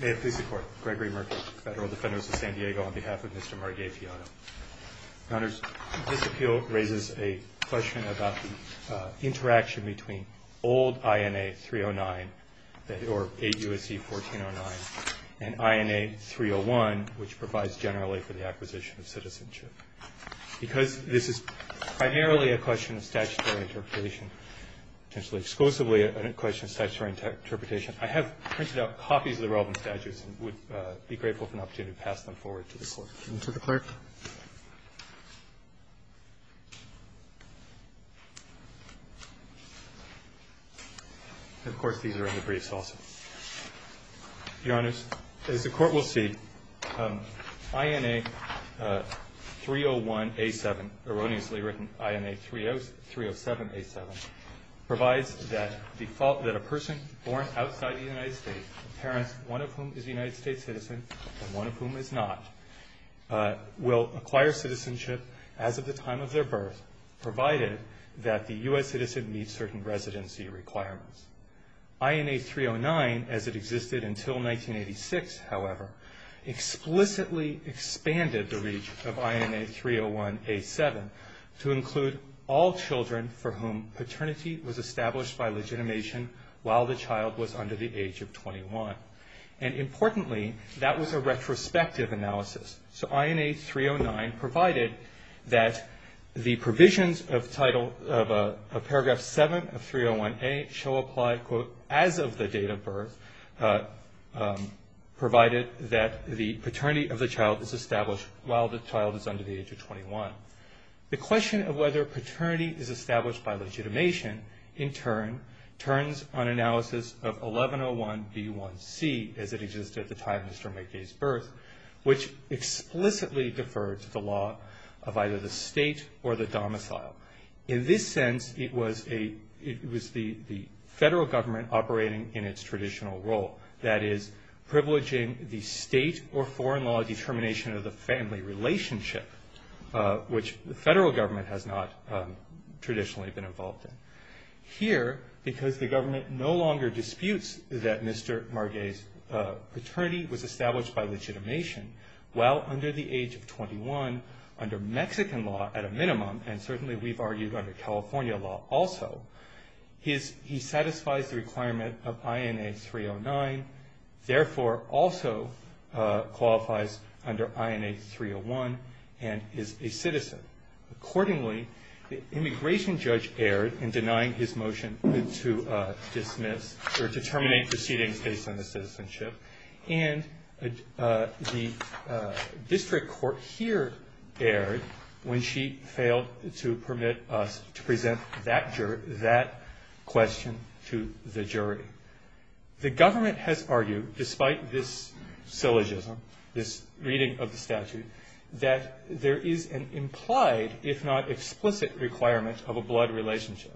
May it please the Court, Gregory Merkley, Federal Defenders of San Diego, on behalf of Mr. Marguet-Pillado. Your Honors, this appeal raises a question about the interaction between old INA 309, or 8 U.S.C. 1409, and INA 301, which provides generally for the acquisition of citizenship. Because this is primarily a question of statutory interpretation, potentially exclusively a question of statutory interpretation, I have printed out copies of the relevant statutes and would be grateful for an opportunity to pass them forward to the Court. Give them to the Clerk. Of course, these are in the briefs also. Your Honors, as the Court will see, INA 301A7, erroneously written INA 307A7, provides that the fault that a person born outside the United States, parents, one of whom is a United States citizen and one of whom is not, will acquire citizenship as of the time of their birth, provided that the U.S. citizen meets certain residency requirements. INA 309, as it existed until 1986, however, explicitly expanded the reach of INA 301A7 to include all children for whom paternity was established by legitimation while the child was under the age of 21. And importantly, that was a retrospective analysis. So INA 309 provided that the provisions of paragraph 7 of 301A shall apply, quote, as of the date of birth, provided that the paternity of the child is established while the child is under the age of 21. The question of whether paternity is established by legitimation, in turn, turns on analysis of 1101B1C, as it existed at the time of Mr. Margay's birth, which explicitly deferred to the law of either the state or the domicile. In this sense, it was the federal government operating in its traditional role, that is, privileging the state or foreign law determination of the family relationship, which the federal government has not traditionally been involved in. Here, because the government no longer disputes that Mr. Margay's paternity was established by legitimation, while under the age of 21, under Mexican law at a minimum, and certainly we've argued under California law also, he satisfies the requirement of INA 309, therefore also qualifies under INA 301, and is a citizen. Accordingly, the immigration judge erred in denying his motion to dismiss or to terminate proceedings based on the citizenship, and the district court here erred when she failed to permit us to present that question to the jury. The government has argued, despite this syllogism, this reading of the statute, that there is an implied, if not explicit, requirement of a blood relationship.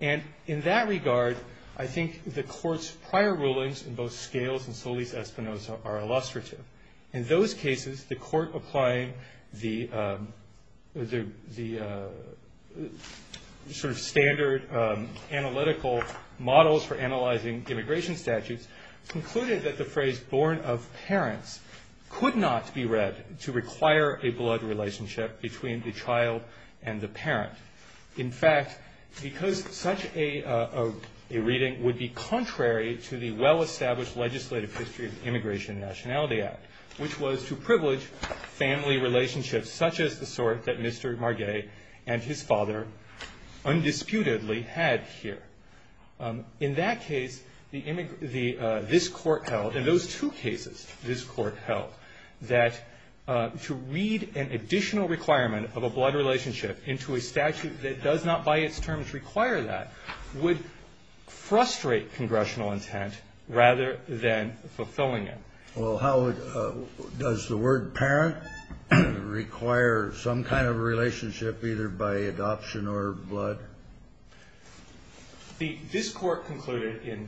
And in that regard, I think the court's prior rulings in both Scales and Solis-Espinosa are illustrative. In those cases, the court applying the sort of standard analytical models for analyzing immigration statutes concluded that the phrase, born of parents, could not be read to require a blood relationship between the child and the parent. In fact, because such a reading would be contrary to the well-established legislative history of the Immigration and Nationality Act, which was to privilege family relationships such as the sort that Mr. Margay and his father undisputedly had here. In that case, this court held, in those two cases this court held, that to read an additional requirement of a blood relationship into a statute that does not by its terms require that would frustrate congressional intent rather than fulfilling it. Well, how does the word parent require some kind of relationship either by adoption or blood? This Court concluded in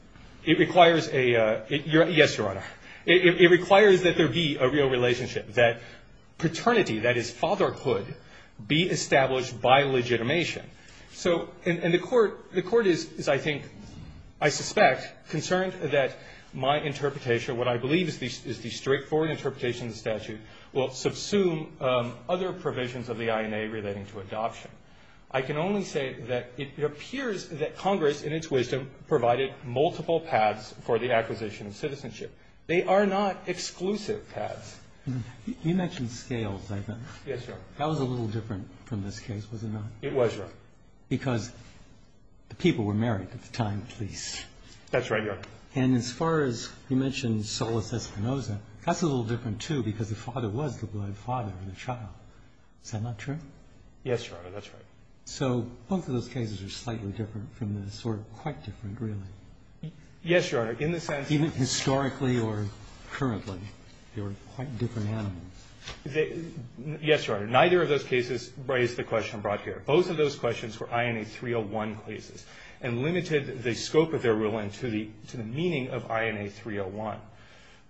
— it requires a — yes, Your Honor. It requires that there be a real relationship, that paternity, that is, fatherhood, be established by legitimation. So — and the Court — the Court is, I think, I suspect, concerned that my interpretation, what I believe is the straightforward interpretation of the statute, will subsume other provisions of the INA relating to adoption. I can only say that it appears that Congress, in its wisdom, provided multiple paths for the acquisition of citizenship. They are not exclusive paths. You mentioned scales, I think. Yes, Your Honor. That was a little different from this case, was it not? It was, Your Honor. Because the people were married at the time, at least. That's right, Your Honor. And as far as — you mentioned Solis Espinosa. That's a little different, too, because the father was the blood father of the child. Is that not true? Yes, Your Honor. That's right. So both of those cases are slightly different from this, or quite different, really. Yes, Your Honor. In the sense — Even historically or currently, they were quite different animals. Yes, Your Honor. Neither of those cases raised the question brought here. Both of those questions were INA 301 cases and limited the scope of their ruling to the meaning of INA 301.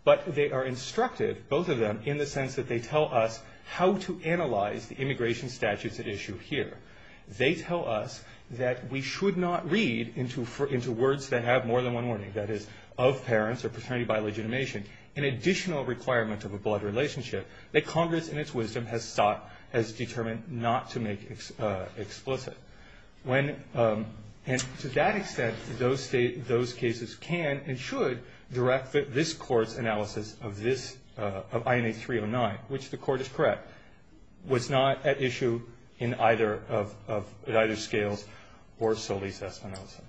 But they are instructive, both of them, in the sense that they tell us how to analyze the immigration statutes at issue here. They tell us that we should not read into words that have more than one wording, that is, of parents or paternity by legitimation, an additional requirement of a blood relationship, that Congress, in its wisdom, has sought, has determined not to make explicit. And to that extent, those cases can and should direct this Court's analysis of INA 309, which the Court is correct, was not at issue at either scales or Solis Espinosa.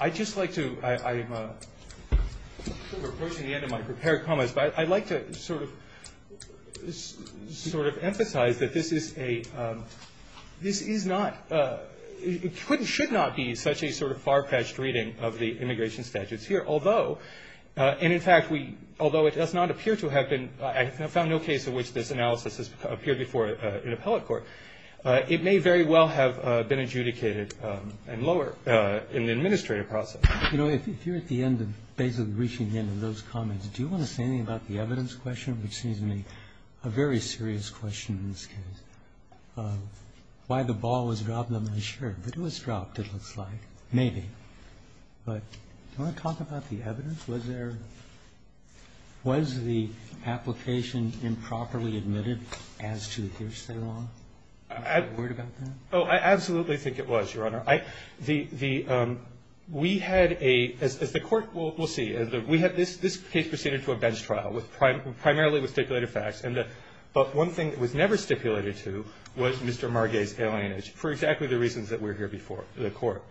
I'd just like to — I'm approaching the end of my prepared comments, but I'd like to sort of emphasize that this is a — this is not — it should not be such a sort of far-fetched reading of the immigration statutes here, although — and, in fact, we — although it does not appear to have been — I have found no case in which this analysis has appeared before an appellate court. It may very well have been adjudicated and lower in the administrative process. You know, if you're at the end of basically reaching the end of those comments, do you want to say anything about the evidence question, which seems to me a very serious question in this case? Why the ball was dropped on the shirt? It was dropped, it looks like, maybe. But do you want to talk about the evidence? Was there — was the application improperly admitted as to Hirsch's error? Were you worried about that? Oh, I absolutely think it was, Your Honor. The — we had a — as the Court will see, we had this case proceeded to a bench trial, primarily with stipulated facts. And the — but one thing that was never stipulated to was Mr. Marget's alienage, for exactly the reasons that were here before the Court.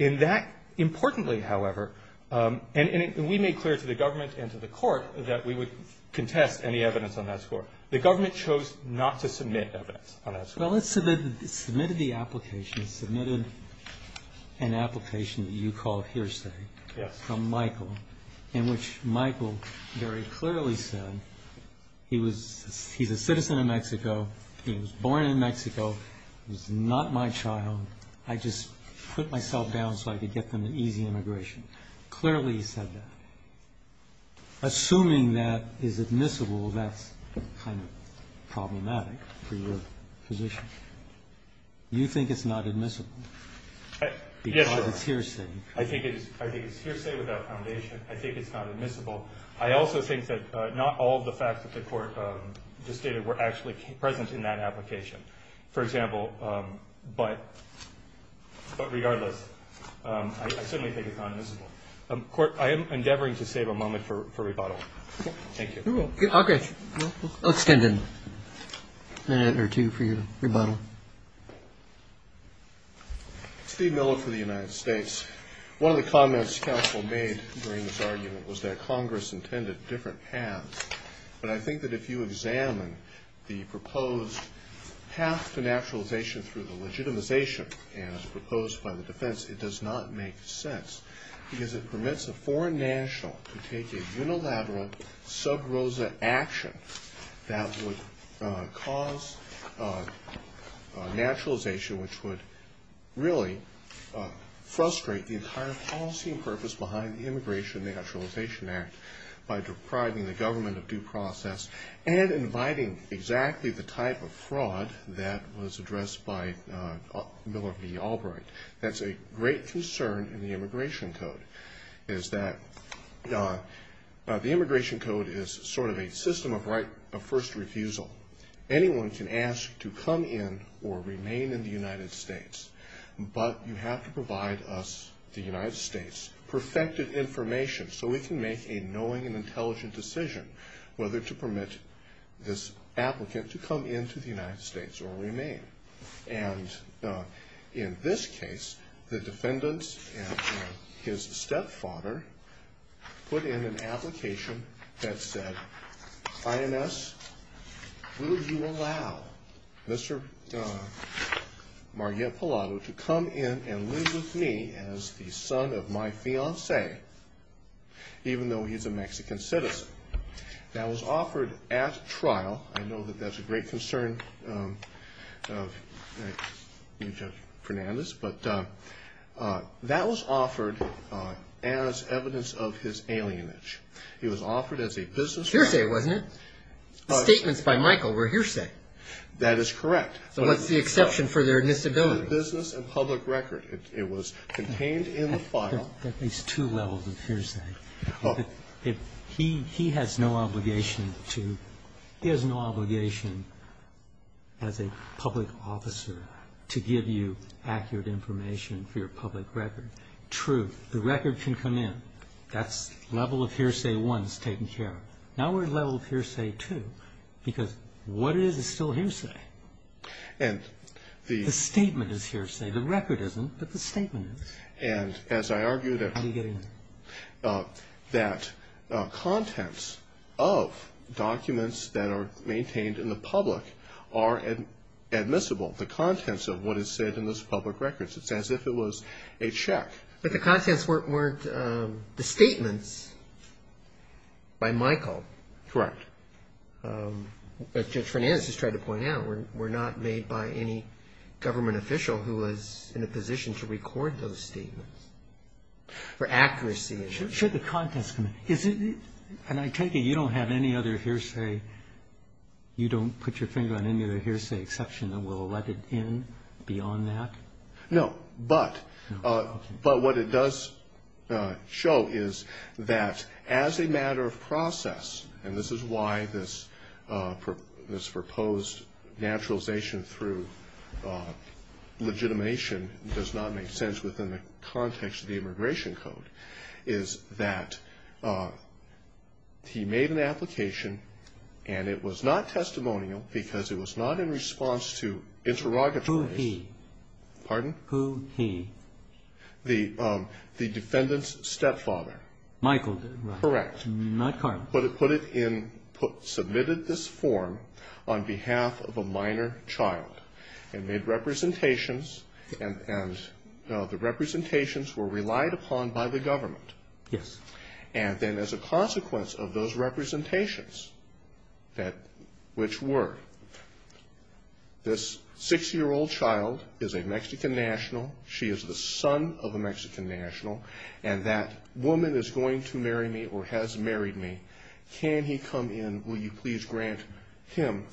In that, importantly, however — and we made clear to the government and to the Court that we would contest any evidence on that score. The government chose not to submit evidence on that score. Well, it submitted — it submitted the application. It submitted an application that you called hearsay. Yes. From Michael, in which Michael very clearly said he was — he's a citizen of Mexico, he was born in Mexico, he's not my child. I just put myself down so I could get them an easy immigration. Clearly he said that. Assuming that is admissible, that's kind of problematic for your position. You think it's not admissible? Yes, Your Honor. Because it's hearsay. I think it's — I think it's hearsay without foundation. I think it's not admissible. I also think that not all of the facts that the Court just stated were actually present in that application. For example, but regardless, I certainly think it's not admissible. Court, I am endeavoring to save a moment for rebuttal. Thank you. Okay. We'll extend a minute or two for your rebuttal. Steve Miller for the United States. One of the comments counsel made during this argument was that Congress intended different paths. But I think that if you examine the proposed path to naturalization through the legitimization as proposed by the defense, it does not make sense because it permits a foreign national to take a unilateral sub rosa action that would cause naturalization, which would really frustrate the entire policy and purpose behind the Naturalization Act by depriving the government of due process and inviting exactly the type of fraud that was addressed by Miller v. Albright. That's a great concern in the immigration code, is that the immigration code is sort of a system of first refusal. Anyone can ask to come in or remain in the United States, but you have to provide us, the United States, perfected information so we can make a knowing and intelligent decision whether to permit this applicant to come into the United States or remain. And in this case, the defendants and his stepfather put in an application that said, INS, will you allow Mr. Margaret Pilato to come in and live with me as the son of my fiance, even though he's a Mexican citizen. That was offered at trial. I know that that's a great concern of Judge Fernandez, but that was offered as evidence of his alienage. He was offered as a business man. Hearsay, wasn't it? The statements by Michael were hearsay. That is correct. So what's the exception for their disability? Business and public record. It was contained in the file. There are at least two levels of hearsay. He has no obligation to, he has no obligation as a public officer to give you accurate information for your public record. True, the record can come in. That's level of hearsay one is taken care of. Now we're at level of hearsay two, because what is is still hearsay. The statement is hearsay. The record isn't, but the statement is. How do you get in? That contents of documents that are maintained in the public are admissible, the contents of what is said in those public records. It's as if it was a check. But the contents weren't the statements by Michael. Correct. As Judge Fernandez just tried to point out, were not made by any government official who was in a position to record those statements for accuracy. Should the contents come in? And I take it you don't have any other hearsay, you don't put your finger on any other hearsay exception that will let it in beyond that? No, but what it does show is that as a matter of process, and this is why this proposed naturalization through legitimation does not make sense within the context of the immigration code, is that he made an application and it was not testimonial because it was not in response to interrogatories. Who he? Pardon? Who he? The defendant's stepfather. Michael. Correct. Not Carl. Put it in, submitted this form on behalf of a minor child and made representations and the representations were relied upon by the government. Yes. And then as a consequence of those representations, which were, this six-year-old child is a Mexican national, she is the son of a Mexican national, and that woman is going to marry me or has married me, can he come in, will you please grant him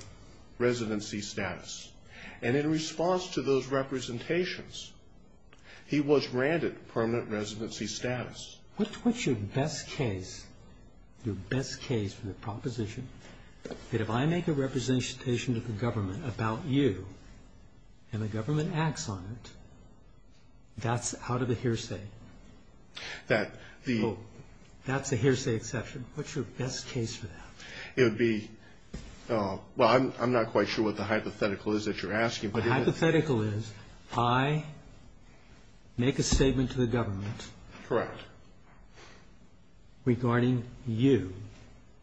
residency status? And in response to those representations, he was granted permanent residency status. What's your best case, your best case for the proposition, that if I make a representation to the government about you and the government acts on it, that's out of the hearsay? That the ó That's a hearsay exception. What's your best case for that? It would be, well, I'm not quite sure what the hypothetical is that you're asking. The hypothetical is I make a statement to the government. Correct. Regarding you.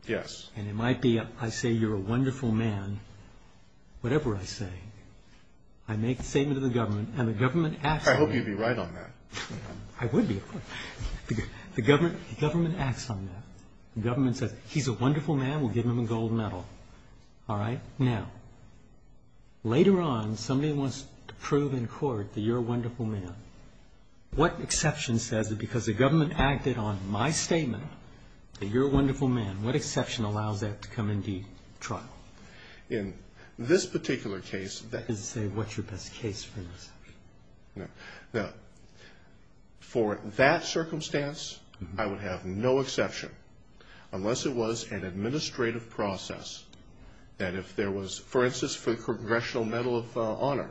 Yes. And it might be I say you're a wonderful man, whatever I say. I make the statement to the government and the government acts on it. I hope you'd be right on that. I would be. The government acts on that. The government says he's a wonderful man, we'll give him a gold medal. All right? Now, later on somebody wants to prove in court that you're a wonderful man. What exception says that because the government acted on my statement, that you're a wonderful man, what exception allows that to come into trial? In this particular case, that ó I was going to say what's your best case for this. Now, for that circumstance, I would have no exception, unless it was an administrative process that if there was, for instance, for the Congressional Medal of Honor,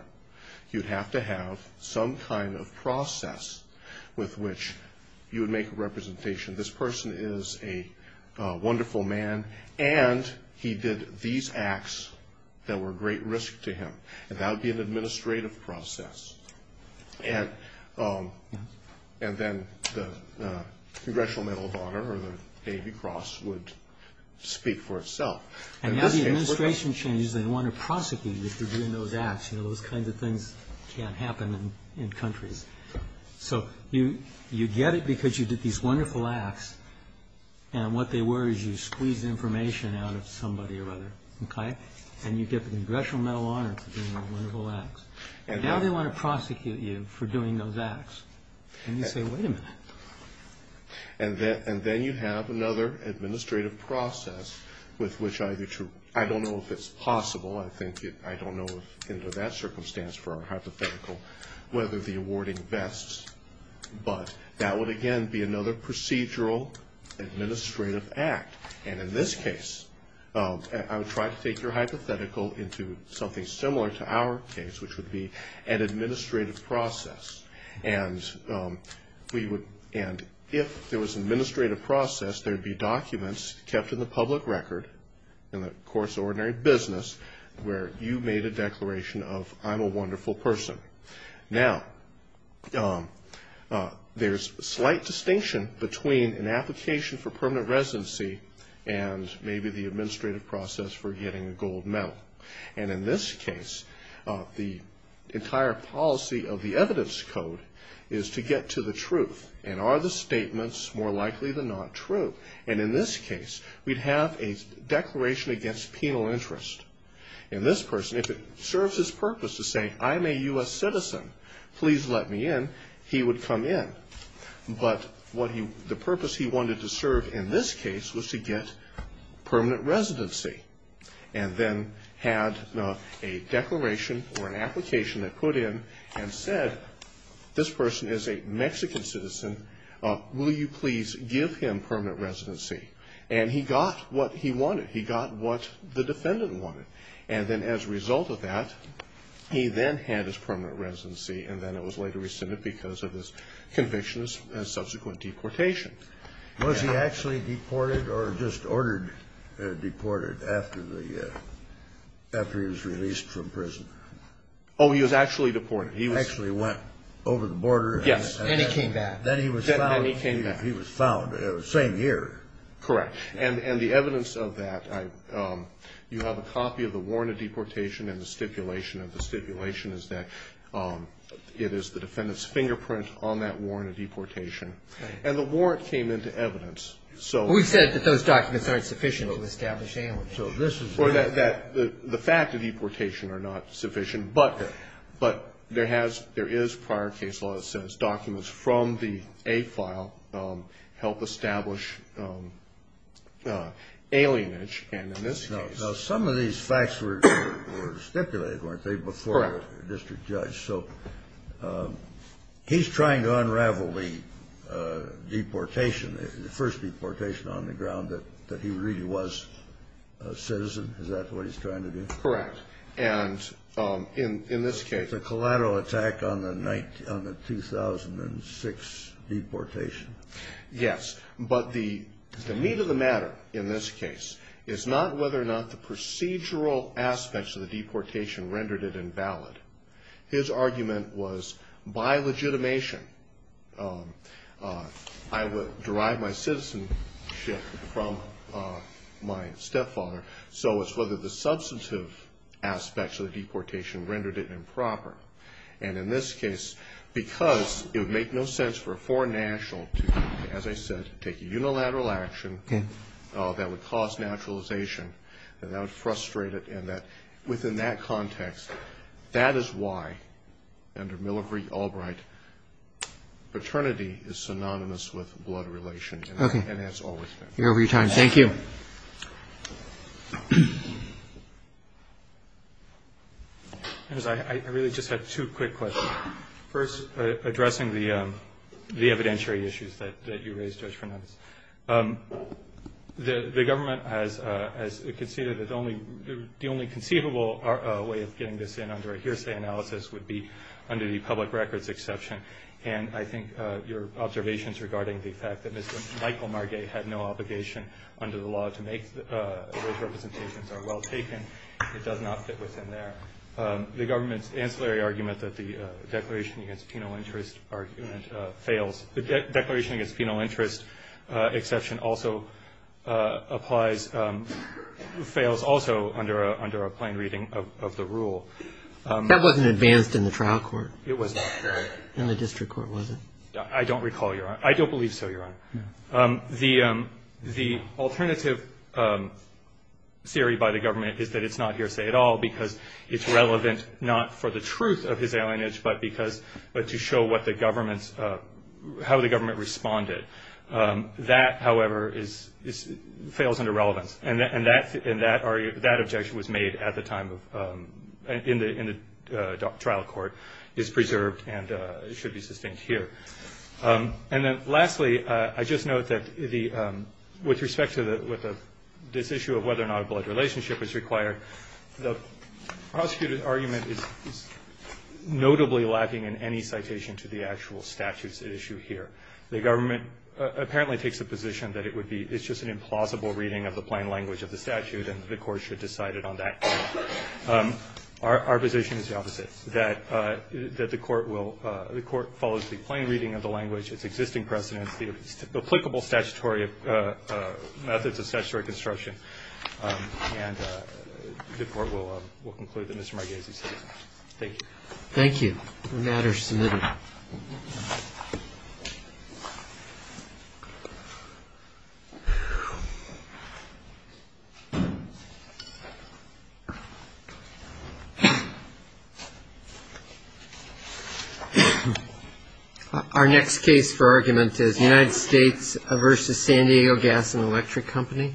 you'd have to have some kind of process with which you would make a representation. This person is a wonderful man, and he did these acts that were a great risk to him, and that would be an administrative process. And then the Congressional Medal of Honor or the Navy Cross would speak for itself. And now the administration changes, they want to prosecute you for doing those acts. You know, those kinds of things can't happen in countries. So you get it because you did these wonderful acts, and what they were is you squeezed information out of somebody or other, okay? And you get the Congressional Medal of Honor for doing those wonderful acts. Now they want to prosecute you for doing those acts. And you say, wait a minute. And then you have another administrative process with which either to, I don't know if it's possible, I don't know if under that circumstance for our hypothetical, whether the awarding vests, but that would, again, be another procedural administrative act. And in this case, I would try to take your hypothetical into something similar to our case, which would be an administrative process. And we would, and if there was an administrative process, there would be documents kept in the public record in the course of ordinary business where you made a declaration of I'm a wonderful person. Now there's a slight distinction between an application for permanent residency and maybe the administrative process for getting a gold medal. And in this case, the entire policy of the evidence code is to get to the truth. And are the statements more likely than not true? And in this case, we'd have a declaration against penal interest. And this person, if it serves his purpose to say I'm a U.S. citizen, please let me in, he would come in. But the purpose he wanted to serve in this case was to get permanent residency. And then had a declaration or an application that put in and said this person is a Mexican citizen. Will you please give him permanent residency? And he got what he wanted. He got what the defendant wanted. And then as a result of that, he then had his permanent residency, and then it was later rescinded because of his convictions and subsequent deportation. Was he actually deported or just ordered deported after he was released from prison? Oh, he was actually deported. He actually went over the border. Yes, and he came back. Then he was found. Then he came back. He was found the same year. Correct. And the evidence of that, you have a copy of the warrant of deportation and the stipulation. And the stipulation is that it is the defendant's fingerprint on that warrant of deportation. And the warrant came into evidence. We said that those documents aren't sufficient to establish alienation. The fact of deportation are not sufficient. But there is prior case law that says documents from the A file help establish alienage. Now, some of these facts were stipulated, weren't they, before the district judge. So he's trying to unravel the deportation, the first deportation on the ground, that he really was a citizen. Is that what he's trying to do? Correct. And in this case. The collateral attack on the 2006 deportation. Yes. But the meat of the matter in this case is not whether or not the procedural aspects of the deportation rendered it invalid. His argument was, by legitimation, I would derive my citizenship from my stepfather. So it's whether the substantive aspects of the deportation rendered it improper. And in this case, because it would make no sense for a foreign national to, as I said, take a unilateral action that would cause naturalization, that would frustrate it. And within that context, that is why, under Miller v. Albright, paternity is synonymous with blood relation. Okay. And that's always been. Thank you. I really just have two quick questions. First, addressing the evidentiary issues that you raised, Judge Fernandes. The government has conceded that the only conceivable way of getting this in under a hearsay analysis would be under the public records exception. And I think your observations regarding the fact that Mr. Michael Marget had no obligation under the law to make those representations are well taken. It does not fit within there. The government's ancillary argument that the Declaration Against Penal Interest argument fails. The Declaration Against Penal Interest exception also applies, fails also under a plain reading of the rule. That wasn't advanced in the trial court. It wasn't. In the district court, was it? I don't recall, Your Honor. I don't believe so, Your Honor. The alternative theory by the government is that it's not hearsay at all because it's relevant not for the truth of his alienage, but to show how the government responded. That, however, fails under relevance. And that objection was made in the trial court, is preserved, and it should be sustained here. And then lastly, I just note that with respect to this issue of whether or not a blood relationship is required, the prosecutor's argument is notably lacking in any citation to the actual statutes at issue here. The government apparently takes the position that it's just an implausible reading of the plain language of the statute and the court should decide it on that. Our position is the opposite, that the court follows the plain reading of the language, its existing precedents, the applicable methods of statutory construction, and the court will conclude that Mr. Marghese said so. Thank you. Thank you. The matter is submitted. Thank you. Our next case for argument is United States versus San Diego Gas and Electric Company.